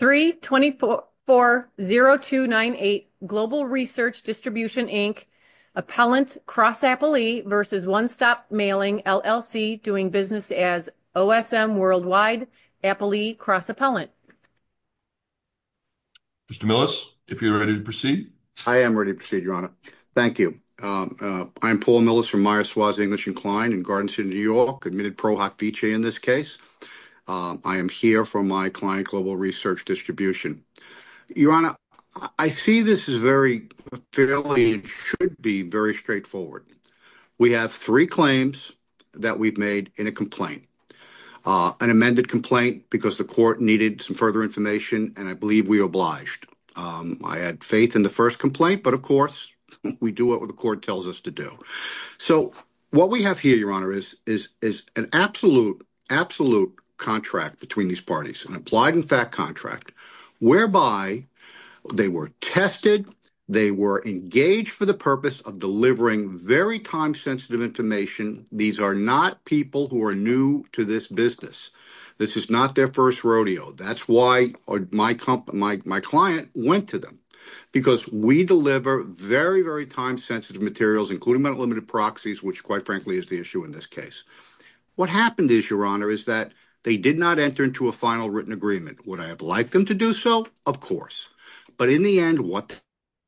3-24-4-0-2-9-8 Global Research Distribution, Inc. Appellant Cross Appellee v. One Stop Mailing, LLC, doing business as OSM Worldwide Appellee Cross Appellant. Mr. Millis, if you're ready to proceed. I am ready to proceed, Your Honor. Thank you. I'm Paul Millis from Meyers-Swass English & Kline in Garden City, New York, admitted pro hofice in this case. I am here for my client, Global Research Distribution. Your Honor, I see this is very fairly, it should be very straightforward. We have three claims that we've made in a complaint, an amended complaint because the court needed some further information, and I believe we obliged. I had faith in the first complaint, but of course, we do what the court tells us to do. So, what we have here, Your Honor, is an absolute, absolute contract between these parties, an implied and fact contract, whereby they were tested, they were engaged for the purpose of delivering very time-sensitive information. These are not people who are new to this business. This is not their first rodeo. That's why my client went to them, because we deliver very, very time-sensitive materials, including unlimited proxies, which, quite frankly, is the issue in this case. What happened is, Your Honor, is that they did not enter into a final written agreement. Would I have liked them to do so? Of course. But in the end, what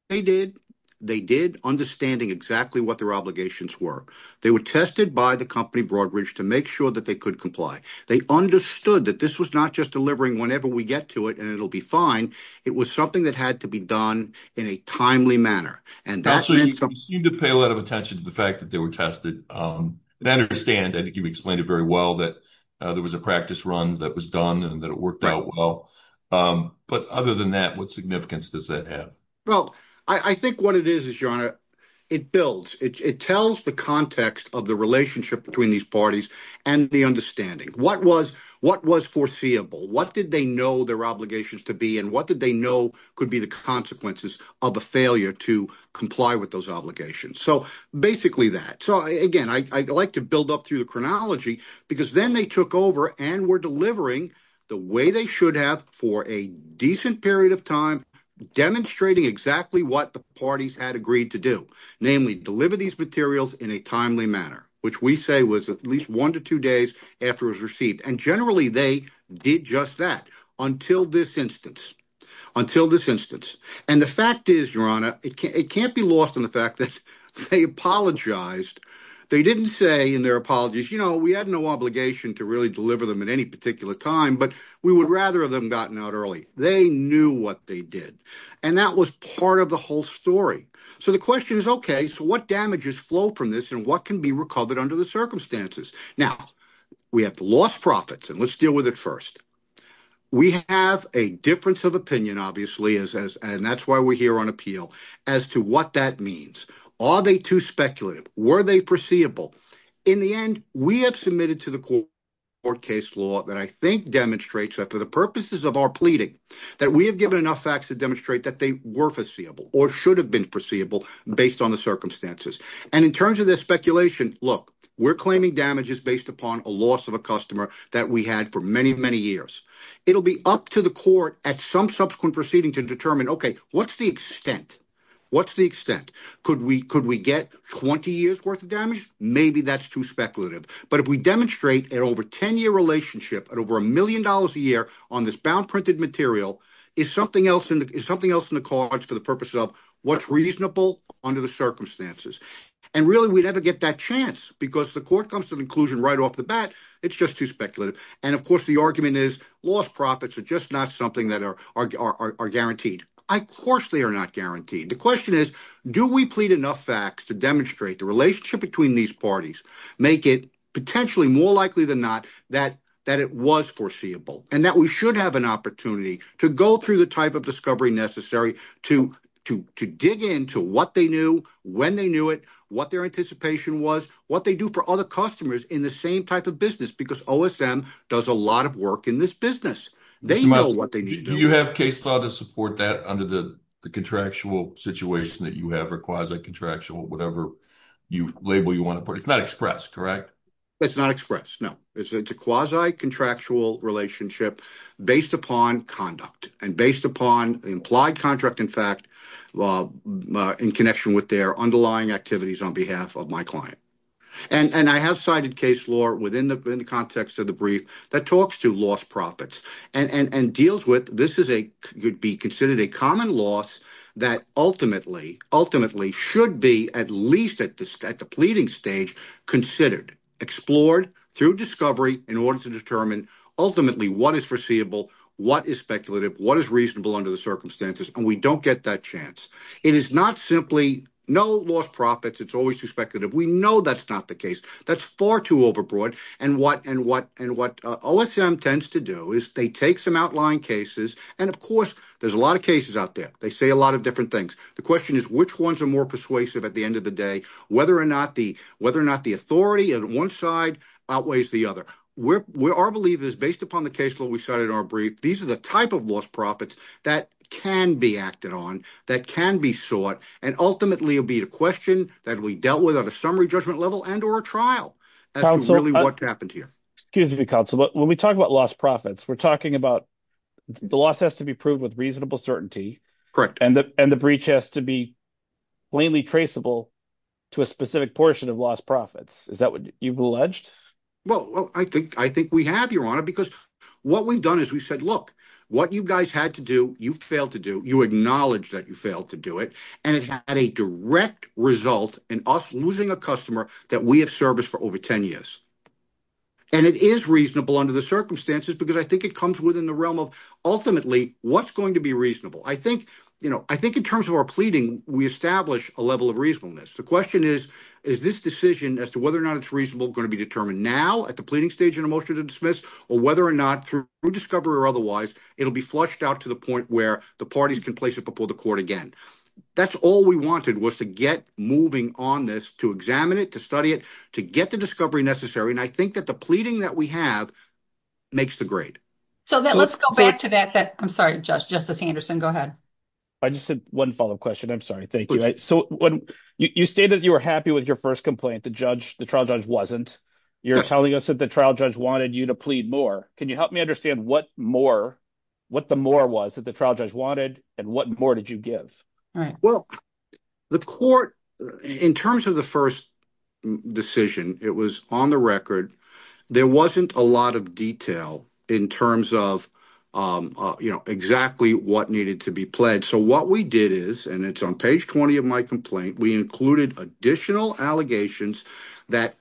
they did, they did understanding exactly what their obligations were. They were tested by the company, Broadridge, to make sure that they could comply. They understood that this was not just delivering whenever we get to it and it'll be fine. It was something that had to be in a timely manner. You seem to pay a lot of attention to the fact that they were tested. I understand. I think you've explained it very well that there was a practice run that was done and that it worked out well. But other than that, what significance does that have? Well, I think what it is, Your Honor, it builds. It tells the context of the relationship between these parties and the understanding. What was foreseeable? What did they know their obligations to be and what did they know could be the consequences of a failure to comply with those obligations? So basically that. So again, I'd like to build up through the chronology because then they took over and were delivering the way they should have for a decent period of time, demonstrating exactly what the parties had agreed to do, namely deliver these materials in a timely manner, which we say was at least one to two days after it was received. And generally they did just that until this instance, until this instance. And the fact is, Your Honor, it can't be lost on the fact that they apologized. They didn't say in their apologies, you know, we had no obligation to really deliver them at any particular time, but we would rather have them gotten out early. They knew what they did. And that was part of the whole story. So the question is, OK, so what damages flow from this and what can be recovered under the circumstances? Now we have lost profits and let's deal with it first. We have a difference of opinion, obviously, and that's why we're here on appeal as to what that means. Are they too speculative? Were they perceivable? In the end, we have submitted to the court case law that I think demonstrates that for the purposes of our pleading, that we have given enough facts to demonstrate that they were foreseeable or should have been foreseeable based on the circumstances. And in terms of their speculation, look, we're claiming damages based upon a loss of a customer that we had for many, many years. It'll be up to the court at some subsequent proceeding to determine, OK, what's the extent? What's the extent? Could we could we get 20 years worth of damage? Maybe that's too speculative. But if we demonstrate an over 10 year relationship at over a million dollars a year on this bound printed material is something else and something else in the cards for the purpose of what's reasonable under the circumstances. And really, we never get that chance because the court comes to the conclusion right off the bat. It's just too speculative. And of course, the argument is lost profits are just not something that are are guaranteed. Of course, they are not guaranteed. The question is, do we plead enough facts to demonstrate the relationship between these parties, make it potentially more likely than not that that it was foreseeable and that we should have an opportunity to go through the type of discovery necessary to to to dig into what they knew when they knew it, what their anticipation was, what they do for other customers in the same type of business, because OSM does a lot of work in this business. They know what they do. You have case law to support that under the contractual situation that you have requires a contractual whatever you label you want to put. It's not express, correct? It's not express. No, it's a quasi contractual relationship based upon conduct and based upon the implied contract, in fact, law in connection with their underlying activities on behalf of my client. And I have cited case law within the context of the brief that talks to lost profits and deals with this is a could be considered a common loss that ultimately, ultimately should be at least at the at the pleading stage considered, explored through discovery in order to determine ultimately what is foreseeable, what is speculative, what is reasonable under the circumstances. And we don't get that chance. It is not simply no lost profits. It's always too speculative. We know that's not the case. That's far too overbroad. And what and what and what OSM tends to do is they take some outlying cases. And of course, there's a lot of cases out there. They say a lot of different things. The question is, which ones are more persuasive at the end of the day, whether or not the whether or not the authority on one side outweighs the other. We're we are believe is based upon the case where we started our brief. These are the type of lost profits that can be acted on, that can be sought. And ultimately, it'll be a question that we dealt with on a summary judgment level and or a trial. That's really what happened here. Excuse me, counsel, but when we talk about lost profits, we're talking about the loss has to be proved with reasonable certainty. Correct. And the and the breach has to be plainly traceable to a specific portion of lost profits. Is that what you've alleged? Well, I think I think we have, Your Honor, because what we've done is we said, look, what you guys had to do, you failed to do, you acknowledge that you failed to do it. And it had a direct result in us losing a customer that we have service for over 10 years. And it is reasonable under the circumstances, because I think it comes within the realm of ultimately what's going to be reasonable. I think, you know, I think in terms of our pleading, we establish a level of reasonableness. The question is, is this decision as to whether or not it's reasonable going to be determined now at the pleading stage in a motion to dismiss or whether or not through discovery or otherwise, it'll be flushed out to the point where the parties can place it before the court again. That's all we wanted was to get moving on this, to examine it, to study it, to get the discovery necessary. And I think that the pleading that we have makes the grade. So let's go back to that. I'm sorry, Justice Anderson, go ahead. I just had one follow up question. I'm sorry. Thank you. So when you state that you were happy with your first complaint, the trial judge wasn't. You're telling us that the trial judge wanted you to plead more. Can you help me understand what the more was that the trial wanted and what more did you give? Well, the court in terms of the first decision, it was on the record. There wasn't a lot of detail in terms of, you know, exactly what needed to be pledged. So what we did is and it's on page 20 of my complaint, we included additional allegations that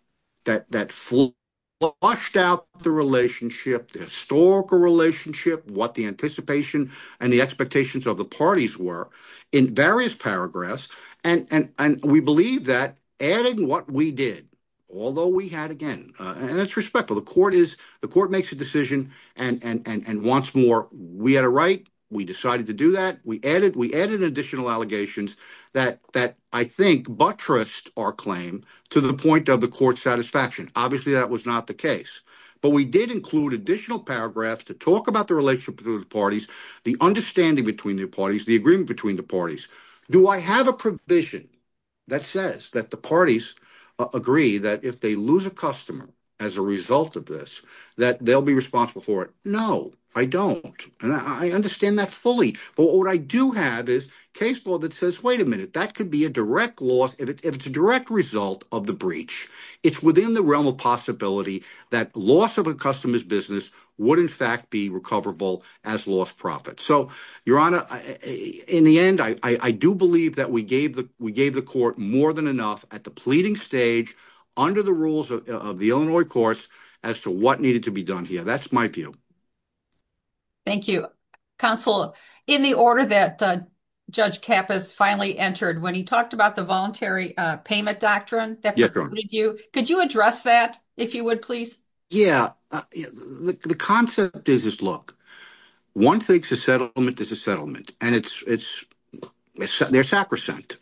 that that flushed out the relationship, the historical relationship, what the anticipation and the expectations of the parties were in various paragraphs. And we believe that adding what we did, although we had, again, and it's respectful, the court is the court makes a decision. And once more, we had a right. We decided to do that. We added we added additional allegations that that I think buttressed our claim to the point of the court satisfaction. Obviously, that was not the case. But we did include additional paragraphs to talk about the relationship to the parties, the understanding between the parties, the agreement between the parties. Do I have a provision that says that the parties agree that if they lose a customer as a result of this, that they'll be responsible for it? No, I don't. And I understand that fully. But what I do have is case law that says, wait a minute, that could be a direct loss if it's a direct result of the breach. It's within the realm of possibility that loss of a customer's business would, in fact, be recoverable as lost profit. So, Your Honor, in the end, I do believe that we gave the we gave the court more than enough at the pleading stage under the rules of the Illinois courts as to what needed to be done here. That's my view. Thank you, Counsel. In the order that Judge Kappas finally entered when he talked about the voluntary payment doctrine that you could you address that, if you would, please? Yeah. The concept is this. Look, one thing to settlement is a settlement. And it's it's their sacrosanct.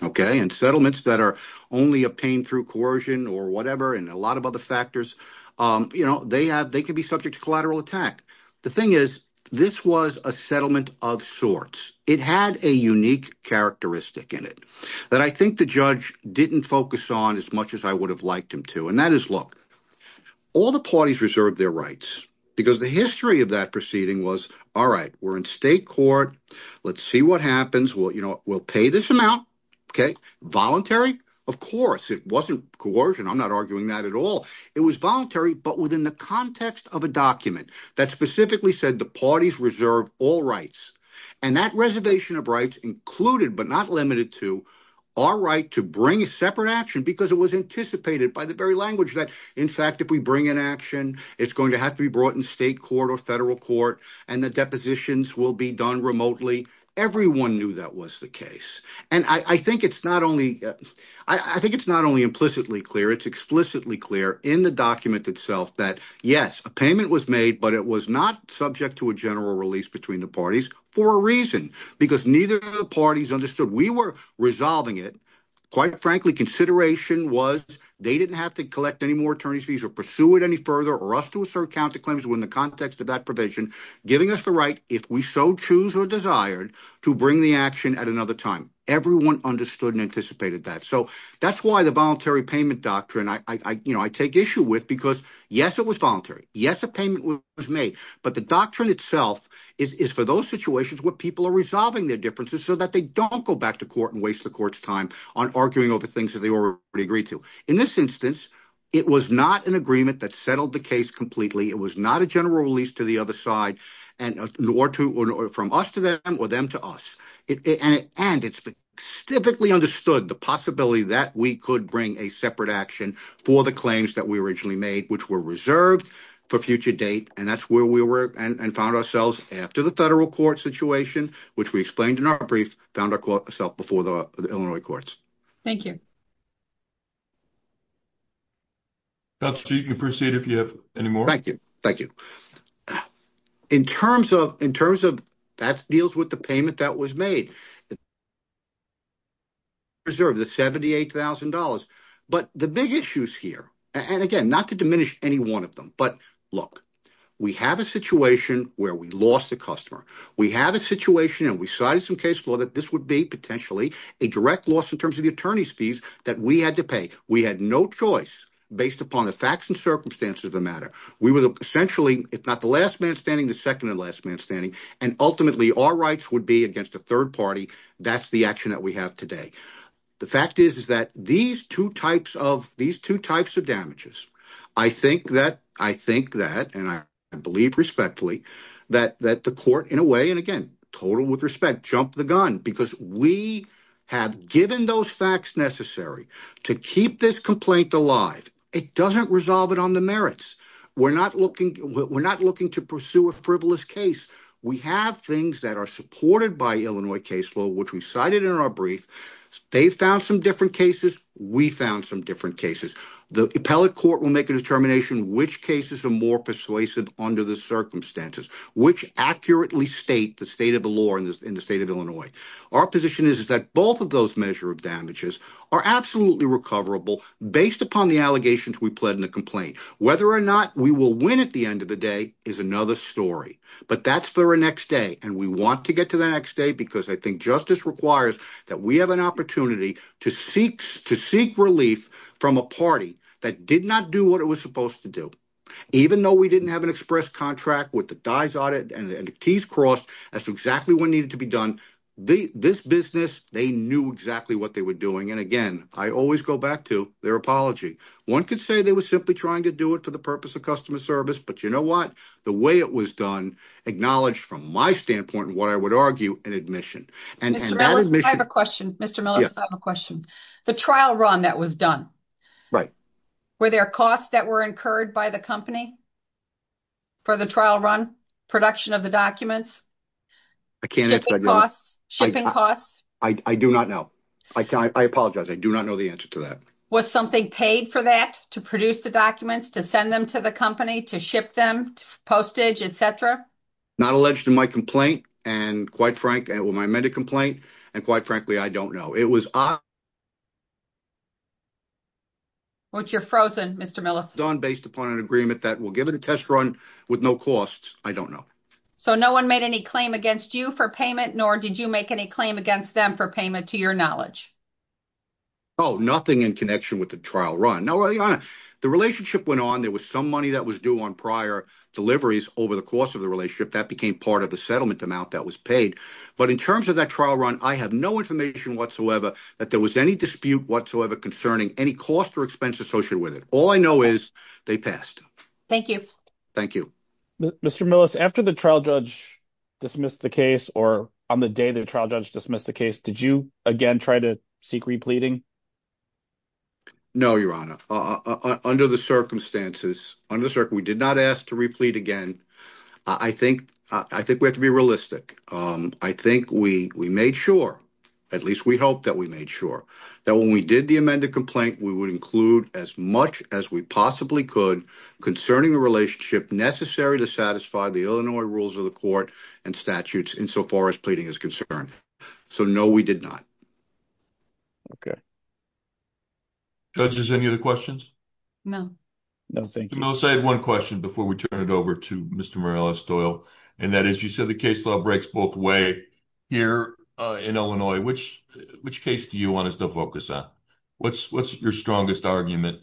Okay. And settlements that are only obtained through coercion or whatever, and a lot of other factors, you know, they have they can be subject to collateral attack. The thing is, this was a settlement of sorts. It had a unique characteristic in it that I think the judge didn't focus on as much as I would have liked him to. And that is, look, all the parties reserve their rights because the history of that proceeding was, all right, we're in state court. Let's see what happens. Well, you know, we'll pay this amount. Okay. Voluntary. Of course, it wasn't coercion. I'm not arguing that at all. It was voluntary, but within the context of a document that specifically said the parties reserve all rights. And that reservation of rights included, but not limited to our right to bring a separate action because it was anticipated by the very language that, in fact, if we bring an action, it's going to have to be brought in state court or federal court, and the depositions will be done remotely. Everyone knew that was the case. And I think it's not only I think it's not only implicitly clear, it's explicitly clear in the document itself that, yes, a payment was made, but it was not subject to a general release between the parties for a reason, because neither of the parties understood we were resolving it. Quite frankly, consideration was they didn't have to collect any more attorney's fees or pursue it any further or us to assert counterclaims within the context of that provision, giving us the right if we so choose or desired to bring the action at another time. Everyone understood and anticipated that. So that's why the voluntary issue with because, yes, it was voluntary. Yes, a payment was made. But the doctrine itself is for those situations where people are resolving their differences so that they don't go back to court and waste the court's time on arguing over things that they already agreed to. In this instance, it was not an agreement that settled the case completely. It was not a general release to the other side and nor to from us to them or them to us. And it's typically understood the possibility that we could bring a separate action for the claims that we originally made, which were reserved for future date. And that's where we were and found ourselves after the federal court situation, which we explained in our brief, found ourself before the Illinois courts. Thank you. Dr. Cheek, you can proceed if you have any more. Thank you. Thank you. In terms of that deals with the payment that was made, it. Reserve the seventy eight thousand dollars, but the big issues here and again, not to diminish any one of them, but look, we have a situation where we lost a customer. We have a situation and we cited some case law that this would be potentially a direct loss in terms of the attorney's fees that we had to pay. We had no choice based upon the facts and circumstances of the matter. We were essentially, if not the last man standing, the second and last man standing. And ultimately, our rights would be against a third party. That's the action that we have today. The fact is, is that these two types of these two types of damages, I think that I think that and I believe respectfully that that the court in a way and again, total with respect, jump the gun because we have given those facts necessary to keep this complaint alive. It doesn't resolve it on the merits. We're not looking we're not looking to pursue a frivolous case. We have things that are supported by Illinois case law, which we cited in our brief. They found some different cases. We found some different cases. The appellate court will make a determination which cases are more persuasive under the circumstances, which accurately state the state of the law in the state of Illinois. Our position is, is that both of those measure of damages are absolutely recoverable based upon the allegations we pled in the complaint. Whether or not we will win at the end of the day is another story. But that's for the next day. And we want to get to the next day because I think justice requires that we have an opportunity to seek to seek relief from a party that did not do what it was supposed to do, even though we didn't have an express contract with the dies audit and the keys crossed. That's exactly what to be done. This business, they knew exactly what they were doing. And again, I always go back to their apology. One could say they were simply trying to do it for the purpose of customer service. But you know what? The way it was done acknowledged from my standpoint, what I would argue an admission. And I have a question. Mr. Miller, I have a question. The trial run that was done. Right. Were there costs that were incurred by the company for the trial run production of the documents? I can't. Shipping costs. I do not know. I can't. I apologize. I do not know the answer to that. Was something paid for that to produce the documents to send them to the company to ship them postage, etc. Not alleged to my complaint. And quite frank, when I made a complaint, and quite frankly, I don't know it was what you're frozen, Mr. Millicent on based upon an agreement that will give it a test run with no costs. I don't know. So no one made any claim against you for payment, nor did you make any claim against them for payment to your knowledge? Oh, nothing in connection with the trial run. No, the relationship went on. There was some money that was due on prior deliveries over the course of the relationship that became part of the settlement amount that was paid. But in terms of that trial run, I have no information whatsoever that there was any dispute whatsoever concerning any cost or expense associated with it. All I Mr. Millicent, after the trial judge dismissed the case or on the day the trial judge dismissed the case, did you again try to seek repleting? No, Your Honor. Under the circumstances, under the circuit, we did not ask to replete again. I think I think we have to be realistic. I think we we made sure at least we hope that we made sure that when we did the amended complaint, we would include as much as we possibly could concerning the relationship necessary to satisfy the Illinois rules of the court and statutes insofar as pleading is concerned. So no, we did not. Okay. Judge, is there any other questions? No. No, thank you. I'll say one question before we turn it over to Mr. Morales-Doyle. And that is you said the case law breaks both way here in Illinois, which which case do you want us to focus on? What's what's your strongest argument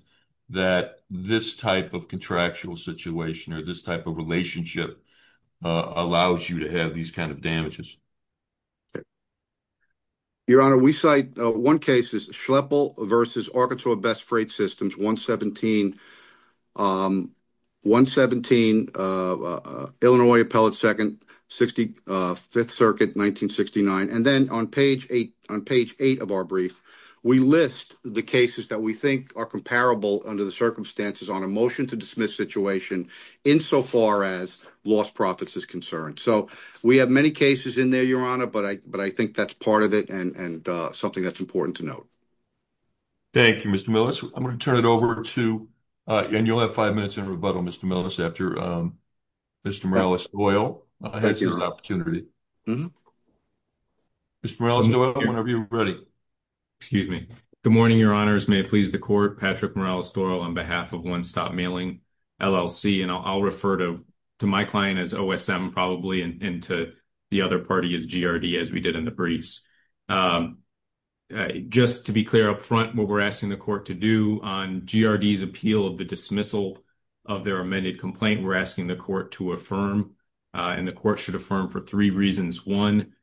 that this type of contractual situation or this type of relationship allows you to have these kind of damages? Your Honor, we cite one case is Schleppel versus Arkansas Best Freight Systems, 117 Illinois Appellate Second, 65th Circuit, 1969. And then on page eight on page eight of our brief, we list the cases that we think are comparable under the circumstances on a motion to dismiss situation insofar as lost profits is concerned. So we have many cases in there, Your Honor, but I but I think that's part of it and something that's important to note. Thank you, Mr. Millis. I'm going to turn it over to, and you'll have five minutes in rebuttal, Mr. Millis, after Mr. Morales-Doyle has this opportunity. Mr. Morales-Doyle, whenever you're ready. Excuse me. Good morning, Your Honors. May it please the court. Patrick Morales-Doyle on behalf of One Stop Mailing LLC. And I'll refer to my client as OSM probably, and to the other party as GRD, as we did in the briefs. Just to be clear up front, what we're asking the court to do on GRD's appeal of the dismissal of their amended complaint, we're asking the court to affirm, and the court should affirm for three reasons. One,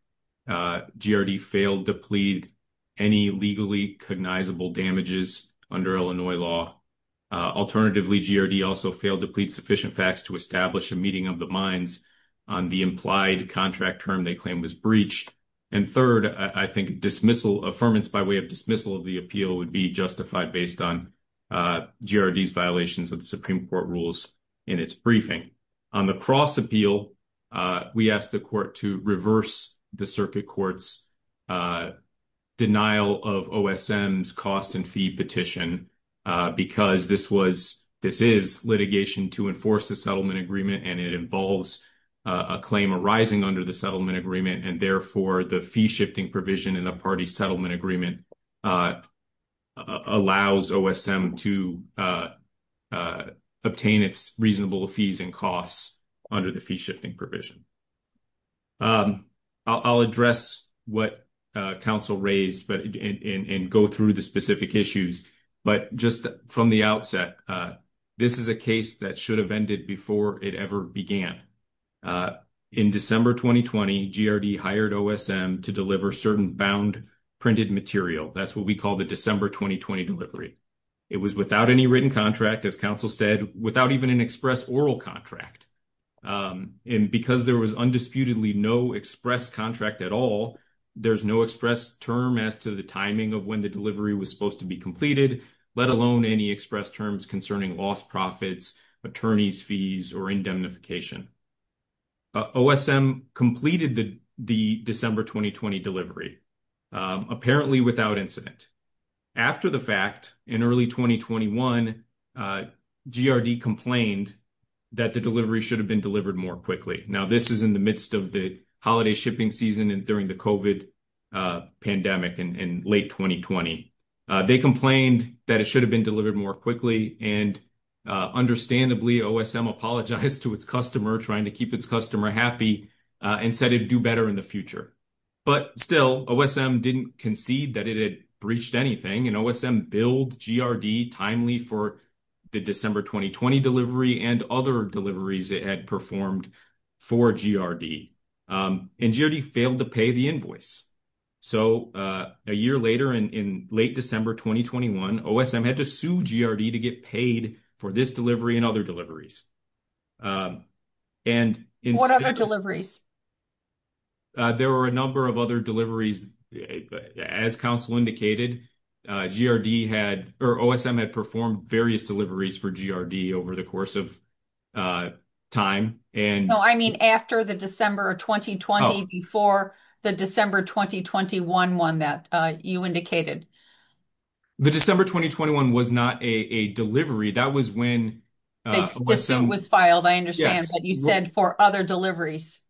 GRD failed to plead any legally cognizable damages under Illinois law. Alternatively, GRD also failed to plead sufficient facts to establish a meeting of the minds on the implied contract term they claim was breached. And third, I think dismissal, affirmance by way of dismissal of the appeal would be justified based on GRD's violations of the Supreme Court rules in its briefing. On the cross appeal, we asked the court to reverse the circuit court's denial of OSM's cost and fee petition because this is litigation to enforce the settlement agreement, and it involves a claim arising under the settlement agreement. And therefore, the fee shifting provision in the party settlement agreement allows OSM to obtain its reasonable fees and costs under the fee shifting provision. I'll address what counsel raised and go through the specific issues. But just from the outset, this is a case that should have ended before it ever began. In December 2020, GRD hired OSM to deliver certain bound printed material. That's what we call the December 2020 delivery. It was without any written contract, as counsel said, without even an express oral contract. And because there was undisputedly no express contract at all, there's no express term as to the timing of when the delivery was supposed to be completed, let alone any express terms concerning lost profits, attorney's fees, or indemnification. OSM completed the December 2020 delivery, apparently without incident. After the fact, in early 2021, GRD complained that the delivery should have been delivered more quickly. Now, in late 2020, they complained that it should have been delivered more quickly. And understandably, OSM apologized to its customer, trying to keep its customer happy, and said it would do better in the future. But still, OSM didn't concede that it had breached anything. And OSM billed GRD timely for the December 2020 delivery and other deliveries it had performed for GRD. And GRD failed to pay the invoice. So, a year later, in late December 2021, OSM had to sue GRD to get paid for this delivery and other deliveries. And... What other deliveries? There were a number of other deliveries. As counsel indicated, GRD had, or OSM had performed various deliveries for GRD over the course of time. And... I mean, after the December 2020, before the December 2021 one that you indicated. The December 2021 was not a delivery. That was when... The suit was filed, I understand, but you said for other deliveries.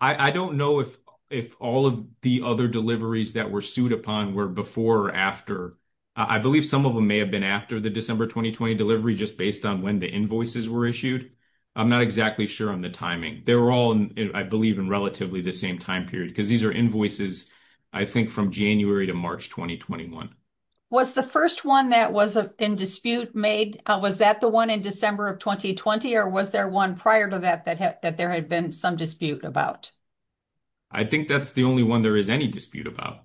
I don't know if all of the other deliveries that were sued upon were before or after. I believe some of them may have been after the December 2020 delivery, just based on when the invoices were issued. I'm not exactly sure on the timing. They were all, I believe, in relatively the same time period. Because these are invoices, I think, from January to March 2021. Was the first one that was in dispute made, was that the one in December of 2020? Or was there one prior to that, that there had been some dispute about? I think that's the only one there is any dispute about.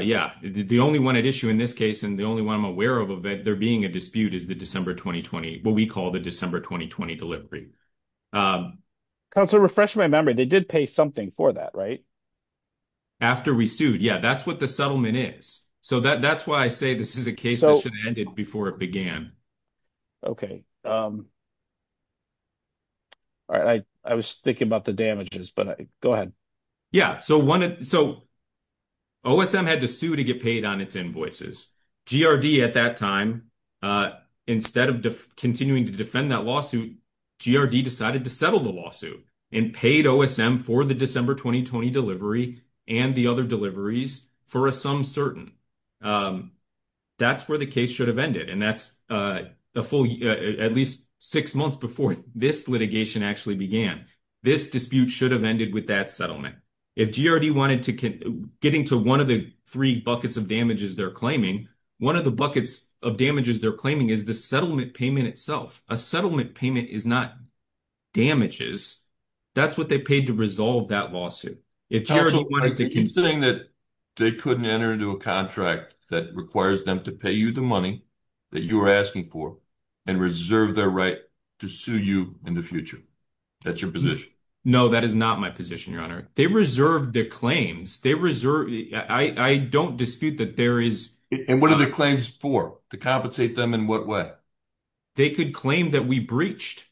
Yeah, the only one at issue in this case, and the only one I'm aware of, of there being a dispute is the December 2020, what we call the December 2020 delivery. Counselor, refreshing my memory, they did pay something for that, right? After we sued. Yeah, that's what the settlement is. So that's why I say this is a case that should have ended before it began. Okay. All right. I was thinking about the damages, but go ahead. Yeah. So OSM had to sue to get paid on its invoices. GRD, at that time, instead of continuing to defend that lawsuit, GRD decided to settle the lawsuit and paid OSM for the December 2020 delivery and the other deliveries for a sum certain. That's where the case should have ended. That's at least six months before this litigation actually began. This dispute should have ended with that settlement. If GRD wanted to get into one of the three buckets of damages they're claiming, one of the buckets of damages they're claiming is the settlement payment itself. A settlement payment is not damages. That's what they paid to resolve that lawsuit. Considering that they couldn't enter into a contract that requires them to pay you the money, that you are asking for, and reserve their right to sue you in the future. That's your position. No, that is not my position, Your Honor. They reserved their claims. I don't dispute that there is... And what are the claims for? To compensate them in what way? They could claim that we breached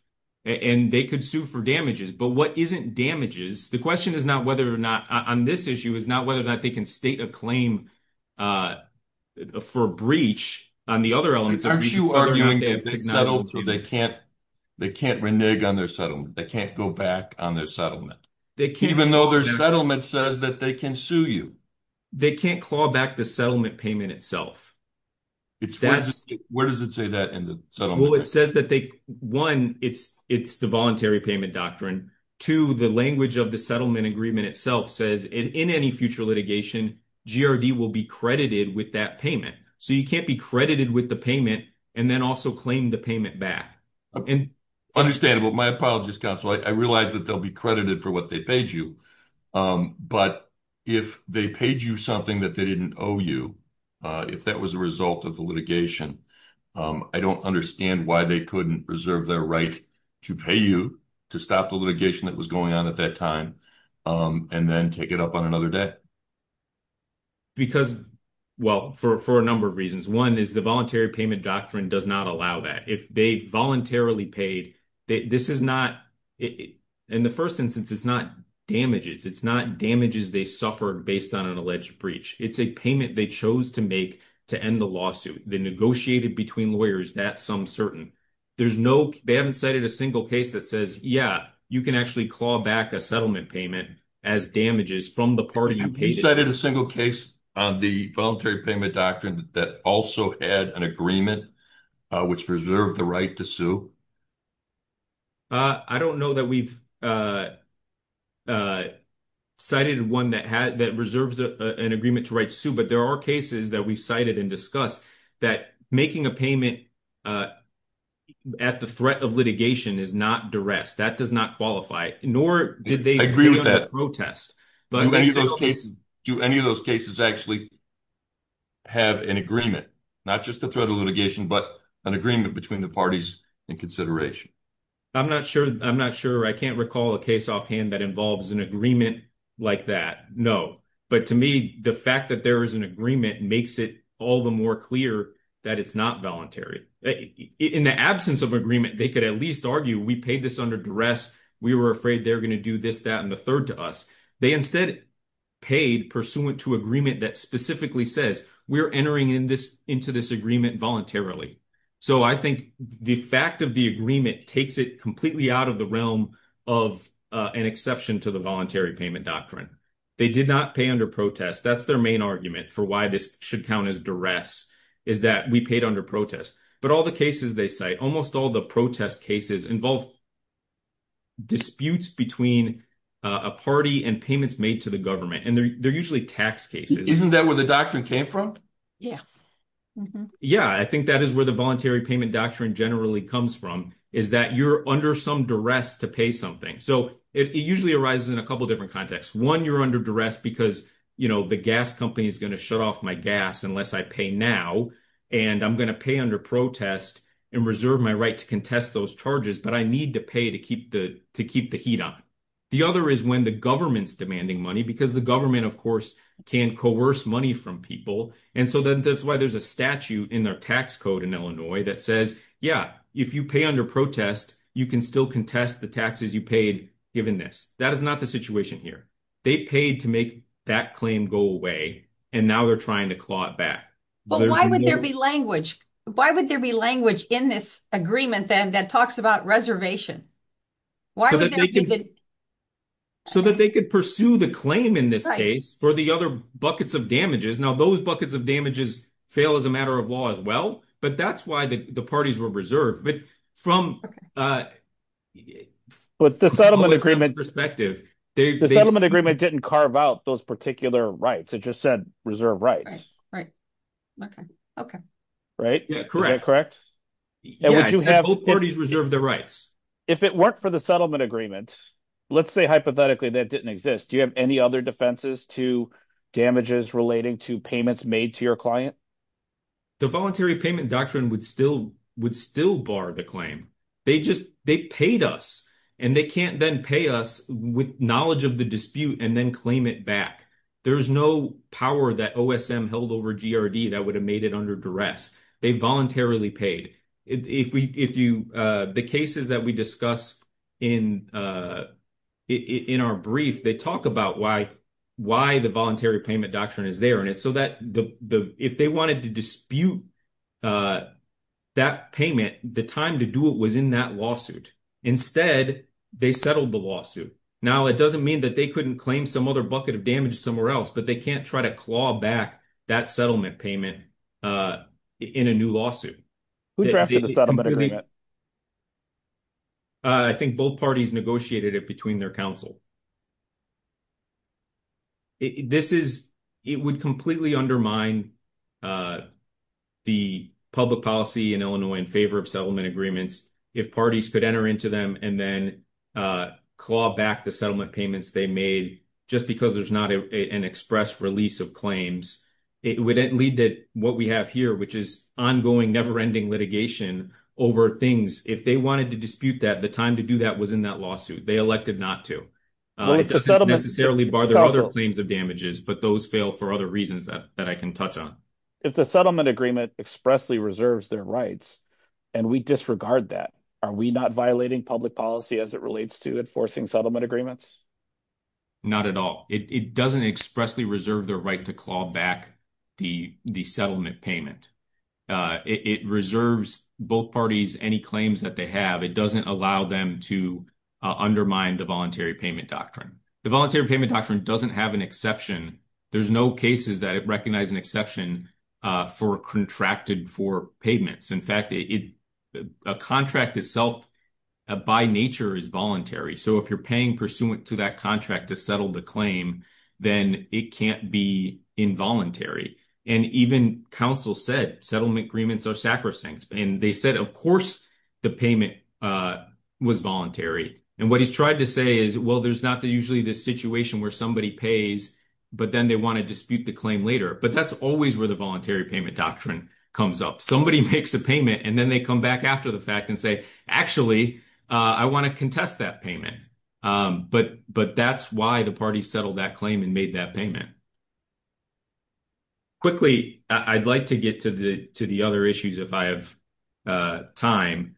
and they could sue for damages. But what isn't damages, the question is not whether or not on this issue is not whether or not they can state a claim for breach on the other elements. Aren't you arguing that they settled so they can't renege on their settlement? They can't go back on their settlement. Even though their settlement says that they can sue you. They can't claw back the settlement payment itself. Where does it say that in the settlement? Well, it says that, one, it's the voluntary payment doctrine. Two, the language of the settlement agreement itself says in any future litigation, GRD will be credited with that payment. So you can't be credited with the payment and then also claim the payment back. Understandable. My apologies, counsel. I realize that they'll be credited for what they paid you. But if they paid you something that they didn't owe you, if that was a result of the litigation, I don't understand why they couldn't reserve their right to pay you to stop the litigation that was going on at that time and then take it up on their debt. Well, for a number of reasons. One is the voluntary payment doctrine does not allow that. If they voluntarily paid, in the first instance, it's not damages. It's not damages they suffered based on an alleged breach. It's a payment they chose to make to end the lawsuit. They negotiated between lawyers, that's some certain. They haven't cited a single case that says, yeah, you can actually call back a settlement payment as damages from the party. Have you cited a single case on the voluntary payment doctrine that also had an agreement which reserved the right to sue? I don't know that we've cited one that had that reserves an agreement to write sue. But there are cases that we cited and that making a payment at the threat of litigation is not duress. That does not qualify, nor did they agree with that protest. But do any of those cases actually have an agreement, not just the threat of litigation, but an agreement between the parties in consideration? I'm not sure. I'm not sure. I can't recall a case offhand that involves an agreement like that. No. But to me, the fact that there is an agreement makes it all the more clear that it's not voluntary. In the absence of agreement, they could at least argue, we paid this under duress. We were afraid they're going to do this, that, and the third to us. They instead paid pursuant to agreement that specifically says, we're entering into this agreement voluntarily. So I think the fact of the agreement takes it completely out of the realm of an exception to the voluntary payment doctrine. They did not pay under protest. That's their main argument for why this should count as duress, is that we paid under protest. But all the cases they cite, almost all the protest cases, involve disputes between a party and payments made to the government. And they're usually tax cases. Isn't that where the doctrine came from? Yeah. Yeah. I think that is where the voluntary payment doctrine generally comes from, is that you're under some duress to pay something. So it usually arises in a couple of different contexts. One, you're under duress because the gas company is going to shut off my gas unless I pay now. And I'm going to pay under protest and reserve my right to contest those charges. But I need to pay to keep the heat on. The other is when the government's demanding money, because the government, of course, can coerce money from people. And so that's why there's a statute in their tax code in Illinois that says, yeah, if you pay under protest, you can still contest the taxes you paid given this. That is not the situation here. They paid to make that claim go away. And now they're trying to claw it back. But why would there be language? Why would there be language in this agreement then that talks about reservation? So that they could pursue the claim in this case for the other buckets of damages. Now, those buckets of damages fail as a matter of law as well. But that's why the parties were reserved. But from the settlement agreement's perspective, the settlement agreement didn't carve out those particular rights. It just said reserve rights. Right. OK. OK. Right. Correct. Correct. Both parties reserve their rights. If it worked for the settlement agreement, let's say hypothetically that didn't exist. Do you have defenses to damages relating to payments made to your client? The voluntary payment doctrine would still would still bar the claim. They just they paid us and they can't then pay us with knowledge of the dispute and then claim it back. There's no power that OSM held over GRD that would have made it under duress. They voluntarily paid. If we if you the cases that we discuss in it in our brief, they talk about why why the voluntary payment doctrine is there. And it's so that if they wanted to dispute that payment, the time to do it was in that lawsuit. Instead, they settled the lawsuit. Now, it doesn't mean that they couldn't claim some other bucket of damage somewhere else, but they can't try to claw back that settlement payment in a new lawsuit. We drafted a settlement agreement. I think both parties negotiated it between their counsel. This is it would completely undermine the public policy in Illinois in favor of settlement agreements if parties could enter into them and then claw back the settlement payments they made just because there's not an express release of claims. It would lead to what we have here, which is ongoing, never ending litigation over things. If they wanted to dispute that, the time to do that was in that lawsuit. They elected not to. It doesn't necessarily bother other claims of damages, but those fail for other reasons that I can touch on. If the settlement agreement expressly reserves their rights and we disregard that, are we not violating public policy as it relates to enforcing settlement agreements? Not at all. It doesn't expressly reserve their right to claw back the settlement payment. It reserves both parties any claims that they have. It doesn't allow them to undermine the voluntary payment doctrine. The voluntary payment doctrine doesn't have an exception. There's no cases that it recognizes an exception for contracted for payments. In fact, a contract itself by nature is voluntary. If you're paying pursuant to that contract to settle the claim, then it can't be involuntary. Even counsel said settlement agreements are sacrosanct. They said, of course, the payment was voluntary. What he's tried to say is, well, there's not usually this situation where somebody pays, but then they want to dispute the claim later. That's always where the voluntary payment doctrine comes up. Somebody makes a payment, and then they come back after the fact and say, actually, I want to contest that payment. But that's why the party settled that claim and made that payment. Quickly, I'd like to get to the other issues if I have time.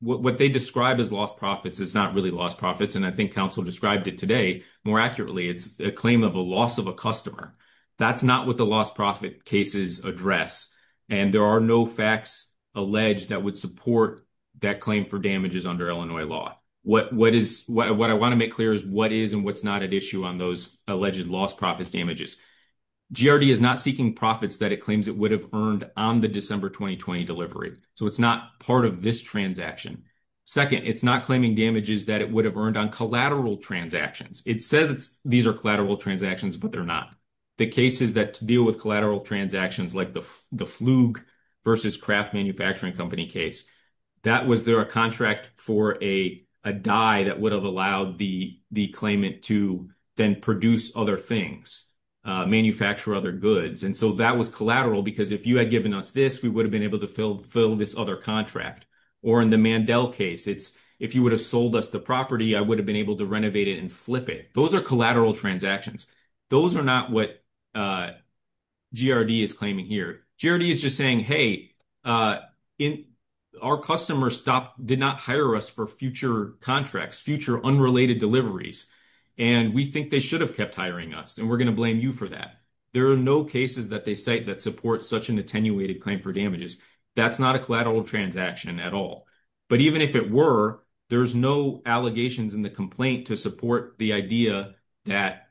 What they describe as lost profits is not really lost profits, and I think counsel described it today more accurately. It's a claim of a loss of a customer. That's not what the lost profit cases address. There are no facts alleged that would support that claim for damages under Illinois law. What I want to make clear is what is and what's not at issue on those alleged lost profits damages. GRD is not seeking profits that it claims it would have earned on the December 2020 delivery. It's not part of this transaction. Second, it's not claiming damages that it would have earned on collateral transactions. It says these are collateral transactions, but they're not. The cases that deal with collateral transactions like the Fluge versus Kraft Manufacturing Company case, that was their contract for a die that would have allowed the claimant to then produce other things, manufacture other goods. That was collateral because if you had given us this, we would have been able to fill this other contract. Or in the Mandel case, it's if you would have sold us the I would have been able to renovate it and flip it. Those are collateral transactions. Those are not what GRD is claiming here. GRD is just saying, hey, our customer did not hire us for future contracts, future unrelated deliveries, and we think they should have kept hiring us, and we're going to blame you for that. There are no cases that they cite that support such an attenuated claim for damages. That's not a collateral transaction at all. But even if it were, there's no allegations in the complaint to support the idea that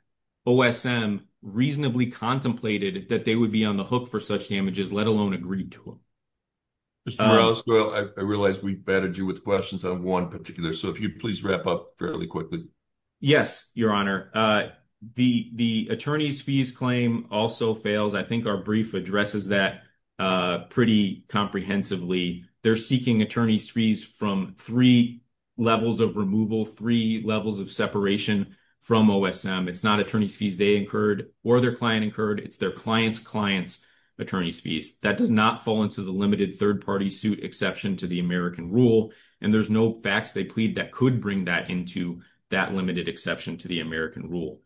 OSM reasonably contemplated that they would be on the hook for such damages, let alone agreed to them. Mr. Morales, I realize we batted you with questions on one particular, so if you'd please wrap up fairly quickly. Yes, Your Honor. The attorney's fees claim also fails. I think our brief addresses that pretty comprehensively. They're seeking attorney's fees from three levels of removal, three levels of separation from OSM. It's not attorney's fees they incurred or their client incurred. It's their client's client's attorney's fees. That does not fall into the limited third-party suit exception to the American rule, and there's no facts they plead that could bring that into that limited exception to the American rule.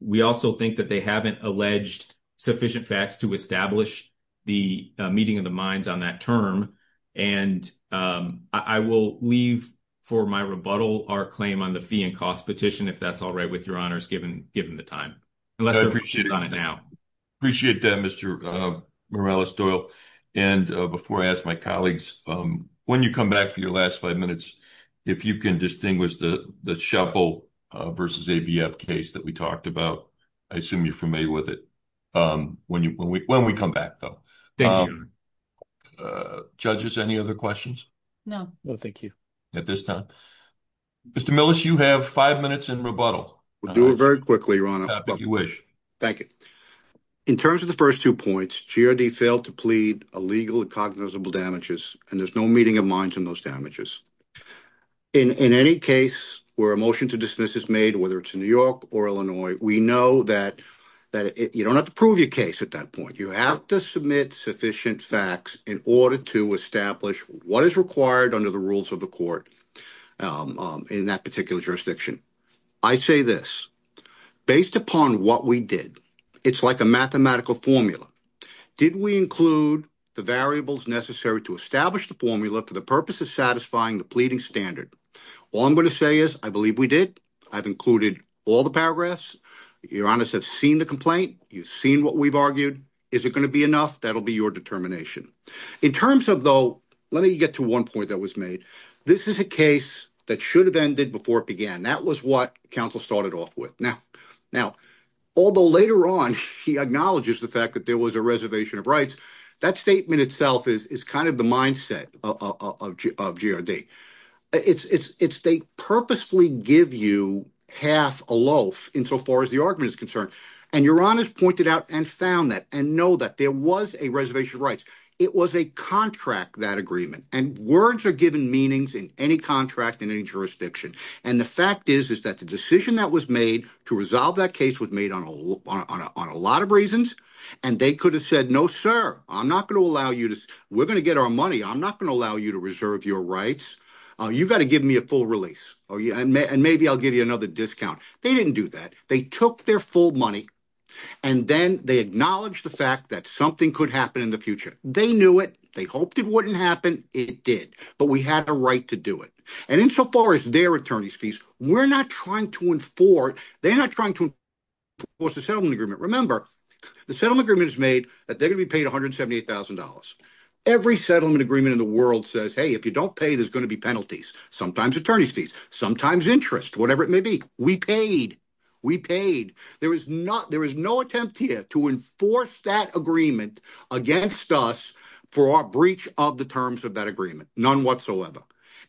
We also think that they haven't alleged sufficient facts to establish the meeting of the minds on that term. I will leave for my rebuttal our claim on the fee and cost petition, if that's all right with Your Honors, given the time. I appreciate that, Mr. Morales-Doyle. Before I ask my colleagues, when you come back for your last five minutes, if you can distinguish the shuffle versus ABF case that we talked about. I assume you're familiar with it when we come back, though. Judges, any other questions? No. No, thank you. At this time, Mr. Millis, you have five minutes in rebuttal. We'll do it very quickly, Your Honor, if you wish. Thank you. In terms of the first two points, GRD failed to plead illegal and cognizable damages, and there's no meeting of minds on those damages. In any case where a motion to dismiss is made, whether it's in New York or Illinois, we know that you don't have to prove your case at that point. You have to submit sufficient facts in order to establish what is required under the rules of the court in that particular jurisdiction. I say this. Based upon what we did, it's like a mathematical formula. Did we include the variables necessary to establish the formula for the purpose of satisfying the pleading standard? All I'm going to say is I believe we did. I've included all the paragraphs. Your Honor has seen the complaint. You've seen what we've argued. Is it going to be enough? That'll be your determination. In terms of, though, let me get to one point that was made. This is a case that should have ended before it began. That was what counsel started off with. Now, although later on he acknowledges the fact that there was a GRD, they purposely give you half a loaf insofar as the argument is concerned. Your Honor has pointed out and found that and know that there was a reservation of rights. It was a contract, that agreement. Words are given meanings in any contract in any jurisdiction. The fact is that the decision that was made to resolve that case was made on a lot of reasons, and they could have said, no, sir, we're going to get our money. I'm not going to allow you to reserve your rights. You've got to give me a full release, and maybe I'll give you another discount. They didn't do that. They took their full money, and then they acknowledged the fact that something could happen in the future. They knew it. They hoped it wouldn't happen. It did, but we had a right to do it. And insofar as their attorney's fees, we're not trying to enforce the settlement agreement. Remember, the settlement agreement is made that they're going to be paid $178,000. Every settlement agreement in the world says, hey, if you don't pay, there's going to be penalties, sometimes attorney's fees, sometimes interest, whatever it may be. We paid. We paid. There is no attempt here to enforce that agreement against us for our breach of the terms of that agreement, none whatsoever.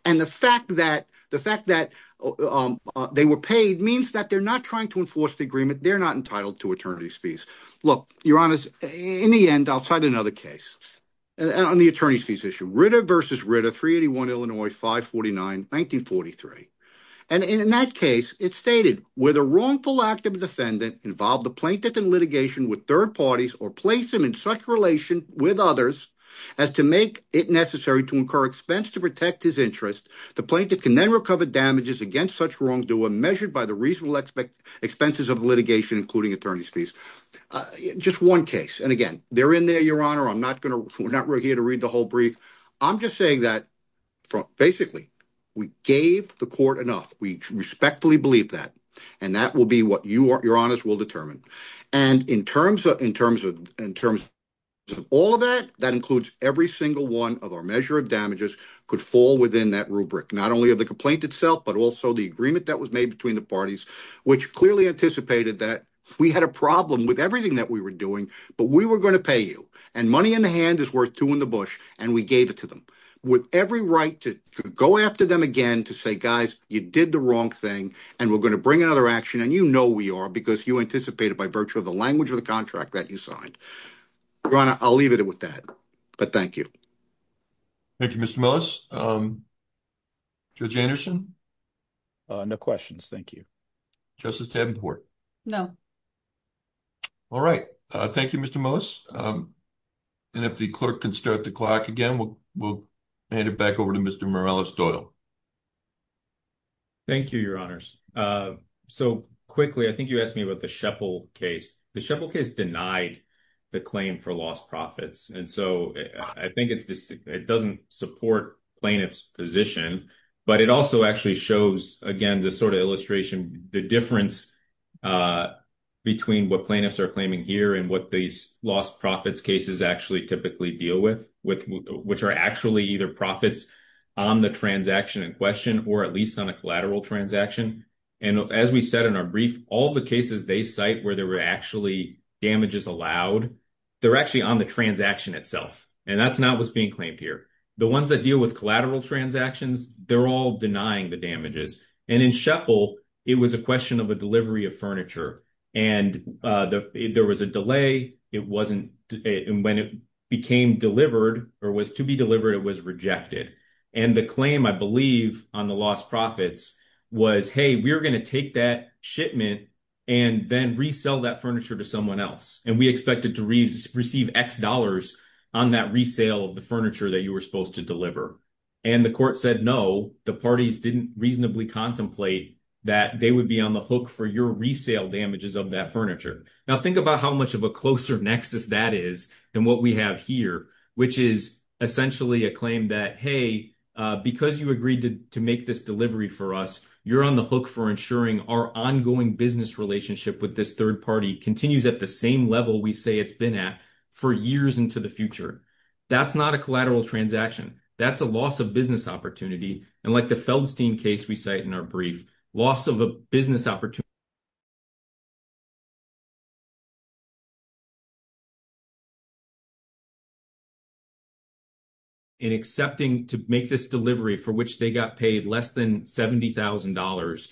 And the fact that they were paid means that they're not trying to enforce the agreement. They're not entitled to attorney's fees. Look, Your Honor, in the end, outside another case on the attorney's fees issue, Ritter v. Ritter, 381 Illinois 549, 1943. And in that case, it stated, where the wrongful act of a defendant involved the plaintiff in litigation with third parties or placed him in such relation with others as to make it necessary to incur expense to protect his interest, the plaintiff can then recover damages against such wrongdoer measured by the reasonable expenses of litigation, including attorney's fees. Just one case. And again, they're in there, Your Honor. We're not here to read the whole brief. I'm just saying that, basically, we gave the court enough. We respectfully believe that. And that will be what Your Honor's will determine. And in terms of all of that, that includes every single one of our measure of damages could fall within that rubric, not only of the complaint itself, but also the agreement that was made between the parties, which clearly anticipated that we had a problem with everything that we were doing, but we were going to pay you. And money in the hand is worth two in the bush, and we gave it to them. With every right to go after them again to say, guys, you did the wrong thing, and we're going to bring another action. And you know we are, because you anticipated by virtue of the language of the contract that you signed. Your Honor, I'll leave it with that. But thank you. Thank you, Mr. Millis. Judge Anderson? No questions. Thank you. Justice Tavenport? No. All right. Thank you, Mr. Millis. And if the clerk can start the clock again, we'll hand it back over to Mr. Morales-Doyle. Thank you, Your Honors. So quickly, I think you asked me about the Sheple case. The Sheple case denied the claim for lost profits. And so I think it doesn't support plaintiff's position. But it also actually shows, again, this sort of illustration, the difference between what plaintiffs are claiming here and what these lost profits cases actually typically deal with, which are actually either profits on the transaction in question, or at least on a collateral transaction. And as we said in our brief, all the cases they cite where there were actually damages allowed, they're actually on the transaction itself. And that's not what's being claimed here. The ones that deal with collateral transactions, they're all denying the damages. And in Sheple, it was a question of a delivery of furniture. And there was a delay. And when it became delivered or was to be delivered, it was rejected. And the claim, I believe, on the lost profits was, hey, we're going to take that and then resell that furniture to someone else. And we expected to receive X dollars on that resale of the furniture that you were supposed to deliver. And the court said, no, the parties didn't reasonably contemplate that they would be on the hook for your resale damages of that furniture. Now, think about how much of a closer nexus that is than what we have here, which is essentially a claim that, hey, because you agreed to make this delivery for us, you're on the hook for ensuring our ongoing business relationship with this third party continues at the same level we say it's been at for years into the future. That's not a collateral transaction. That's a loss of business opportunity. And like the Feldstein case we cite in our brief, loss of a business opportunity. And accepting to make this delivery for which they got paid less than $70,000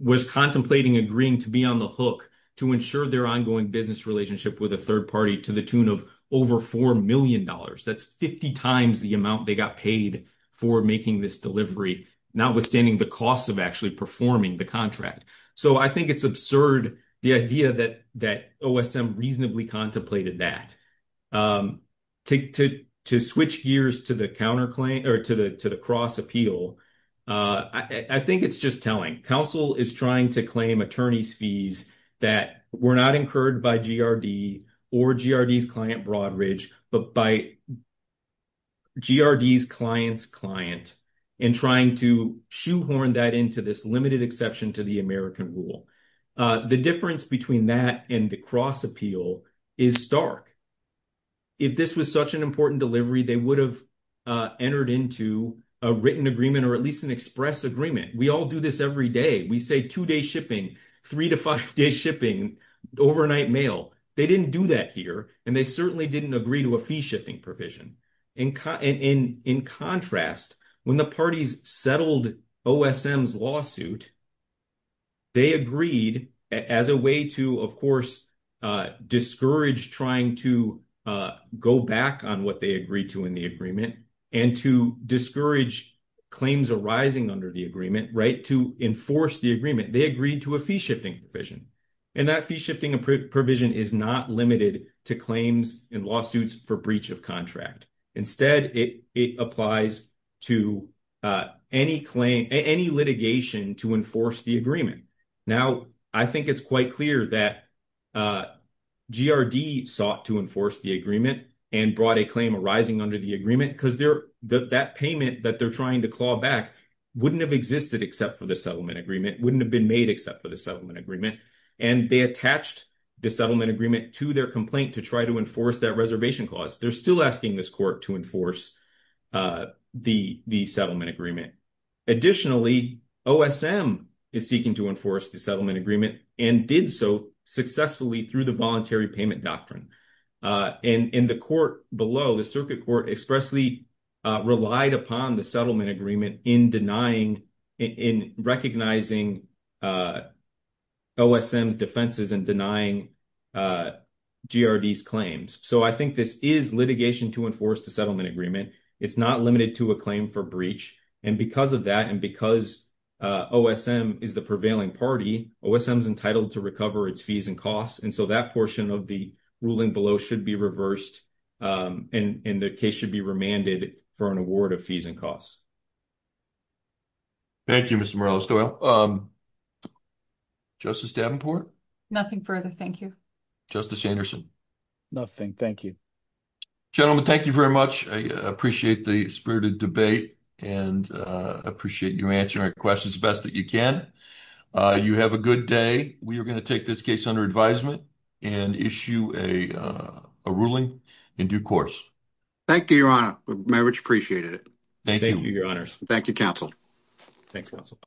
was contemplating agreeing to be on the hook to ensure their ongoing business relationship with a third party to the tune of over $4 million. That's 50 times the amount they got paid for making this delivery, notwithstanding the cost of actually performing the contract. So I think it's absurd, the idea that OSM reasonably contemplated that. To switch gears to the cross-appeal, I think it's just telling. Counsel is trying to claim attorney's fees that were not incurred by GRD or GRD's client Broadridge, but by GRD's client's client, and trying to shoehorn that into this limited exception to the American rule. The difference between that and the cross-appeal is stark. If this was such an important delivery, they would have entered into a written agreement or at least an express agreement. We all do this every day. We say two day shipping, three to five day shipping, overnight mail. They didn't do that here. And they certainly didn't agree to a fee shifting provision. In contrast, when the parties settled OSM's lawsuit, they agreed as a way to, of course, discourage trying to go back on what they agreed to in the agreement, and to discourage claims arising under the agreement, to enforce the agreement. They agreed to a fee shifting provision. And that fee shifting provision is not limited to claims in lawsuits for breach of contract. Instead, it applies to any claim, any litigation to enforce the agreement. Now, I think it's quite clear that GRD sought to enforce the agreement and brought a claim arising under the agreement because that payment that they're trying to claw back wouldn't have existed except for the settlement agreement, wouldn't have been made except for the settlement agreement. And they attached the settlement agreement to their complaint to try to enforce that reservation clause. They're still asking this court to enforce the settlement agreement. Additionally, OSM is seeking to enforce the settlement agreement, and did so successfully through the voluntary payment doctrine. And in the court below, the circuit court expressly relied upon the settlement agreement in denying, in recognizing OSM's defenses and denying GRD's claims. So, I think this is litigation to enforce the settlement agreement. It's not limited to a claim for breach. And because of that, and because OSM is the prevailing party, OSM's entitled to recover its fees and costs. And so, that portion of the ruling below should be reversed, and the case should be remanded for an award of fees and costs. Thank you, Mr. Morello-Stoyle. Justice Davenport? Nothing further. Thank you. Justice Anderson? Nothing. Thank you. Gentlemen, thank you very much. I appreciate the spirited debate and appreciate you answering our questions the best that you can. You have a good day. We are going to take this case under advisement and issue a ruling in due course. Thank you, Your Honor. I very much appreciate it. Thank you. Thank you, Your Honors. Thank you, counsel. Thanks, counsel.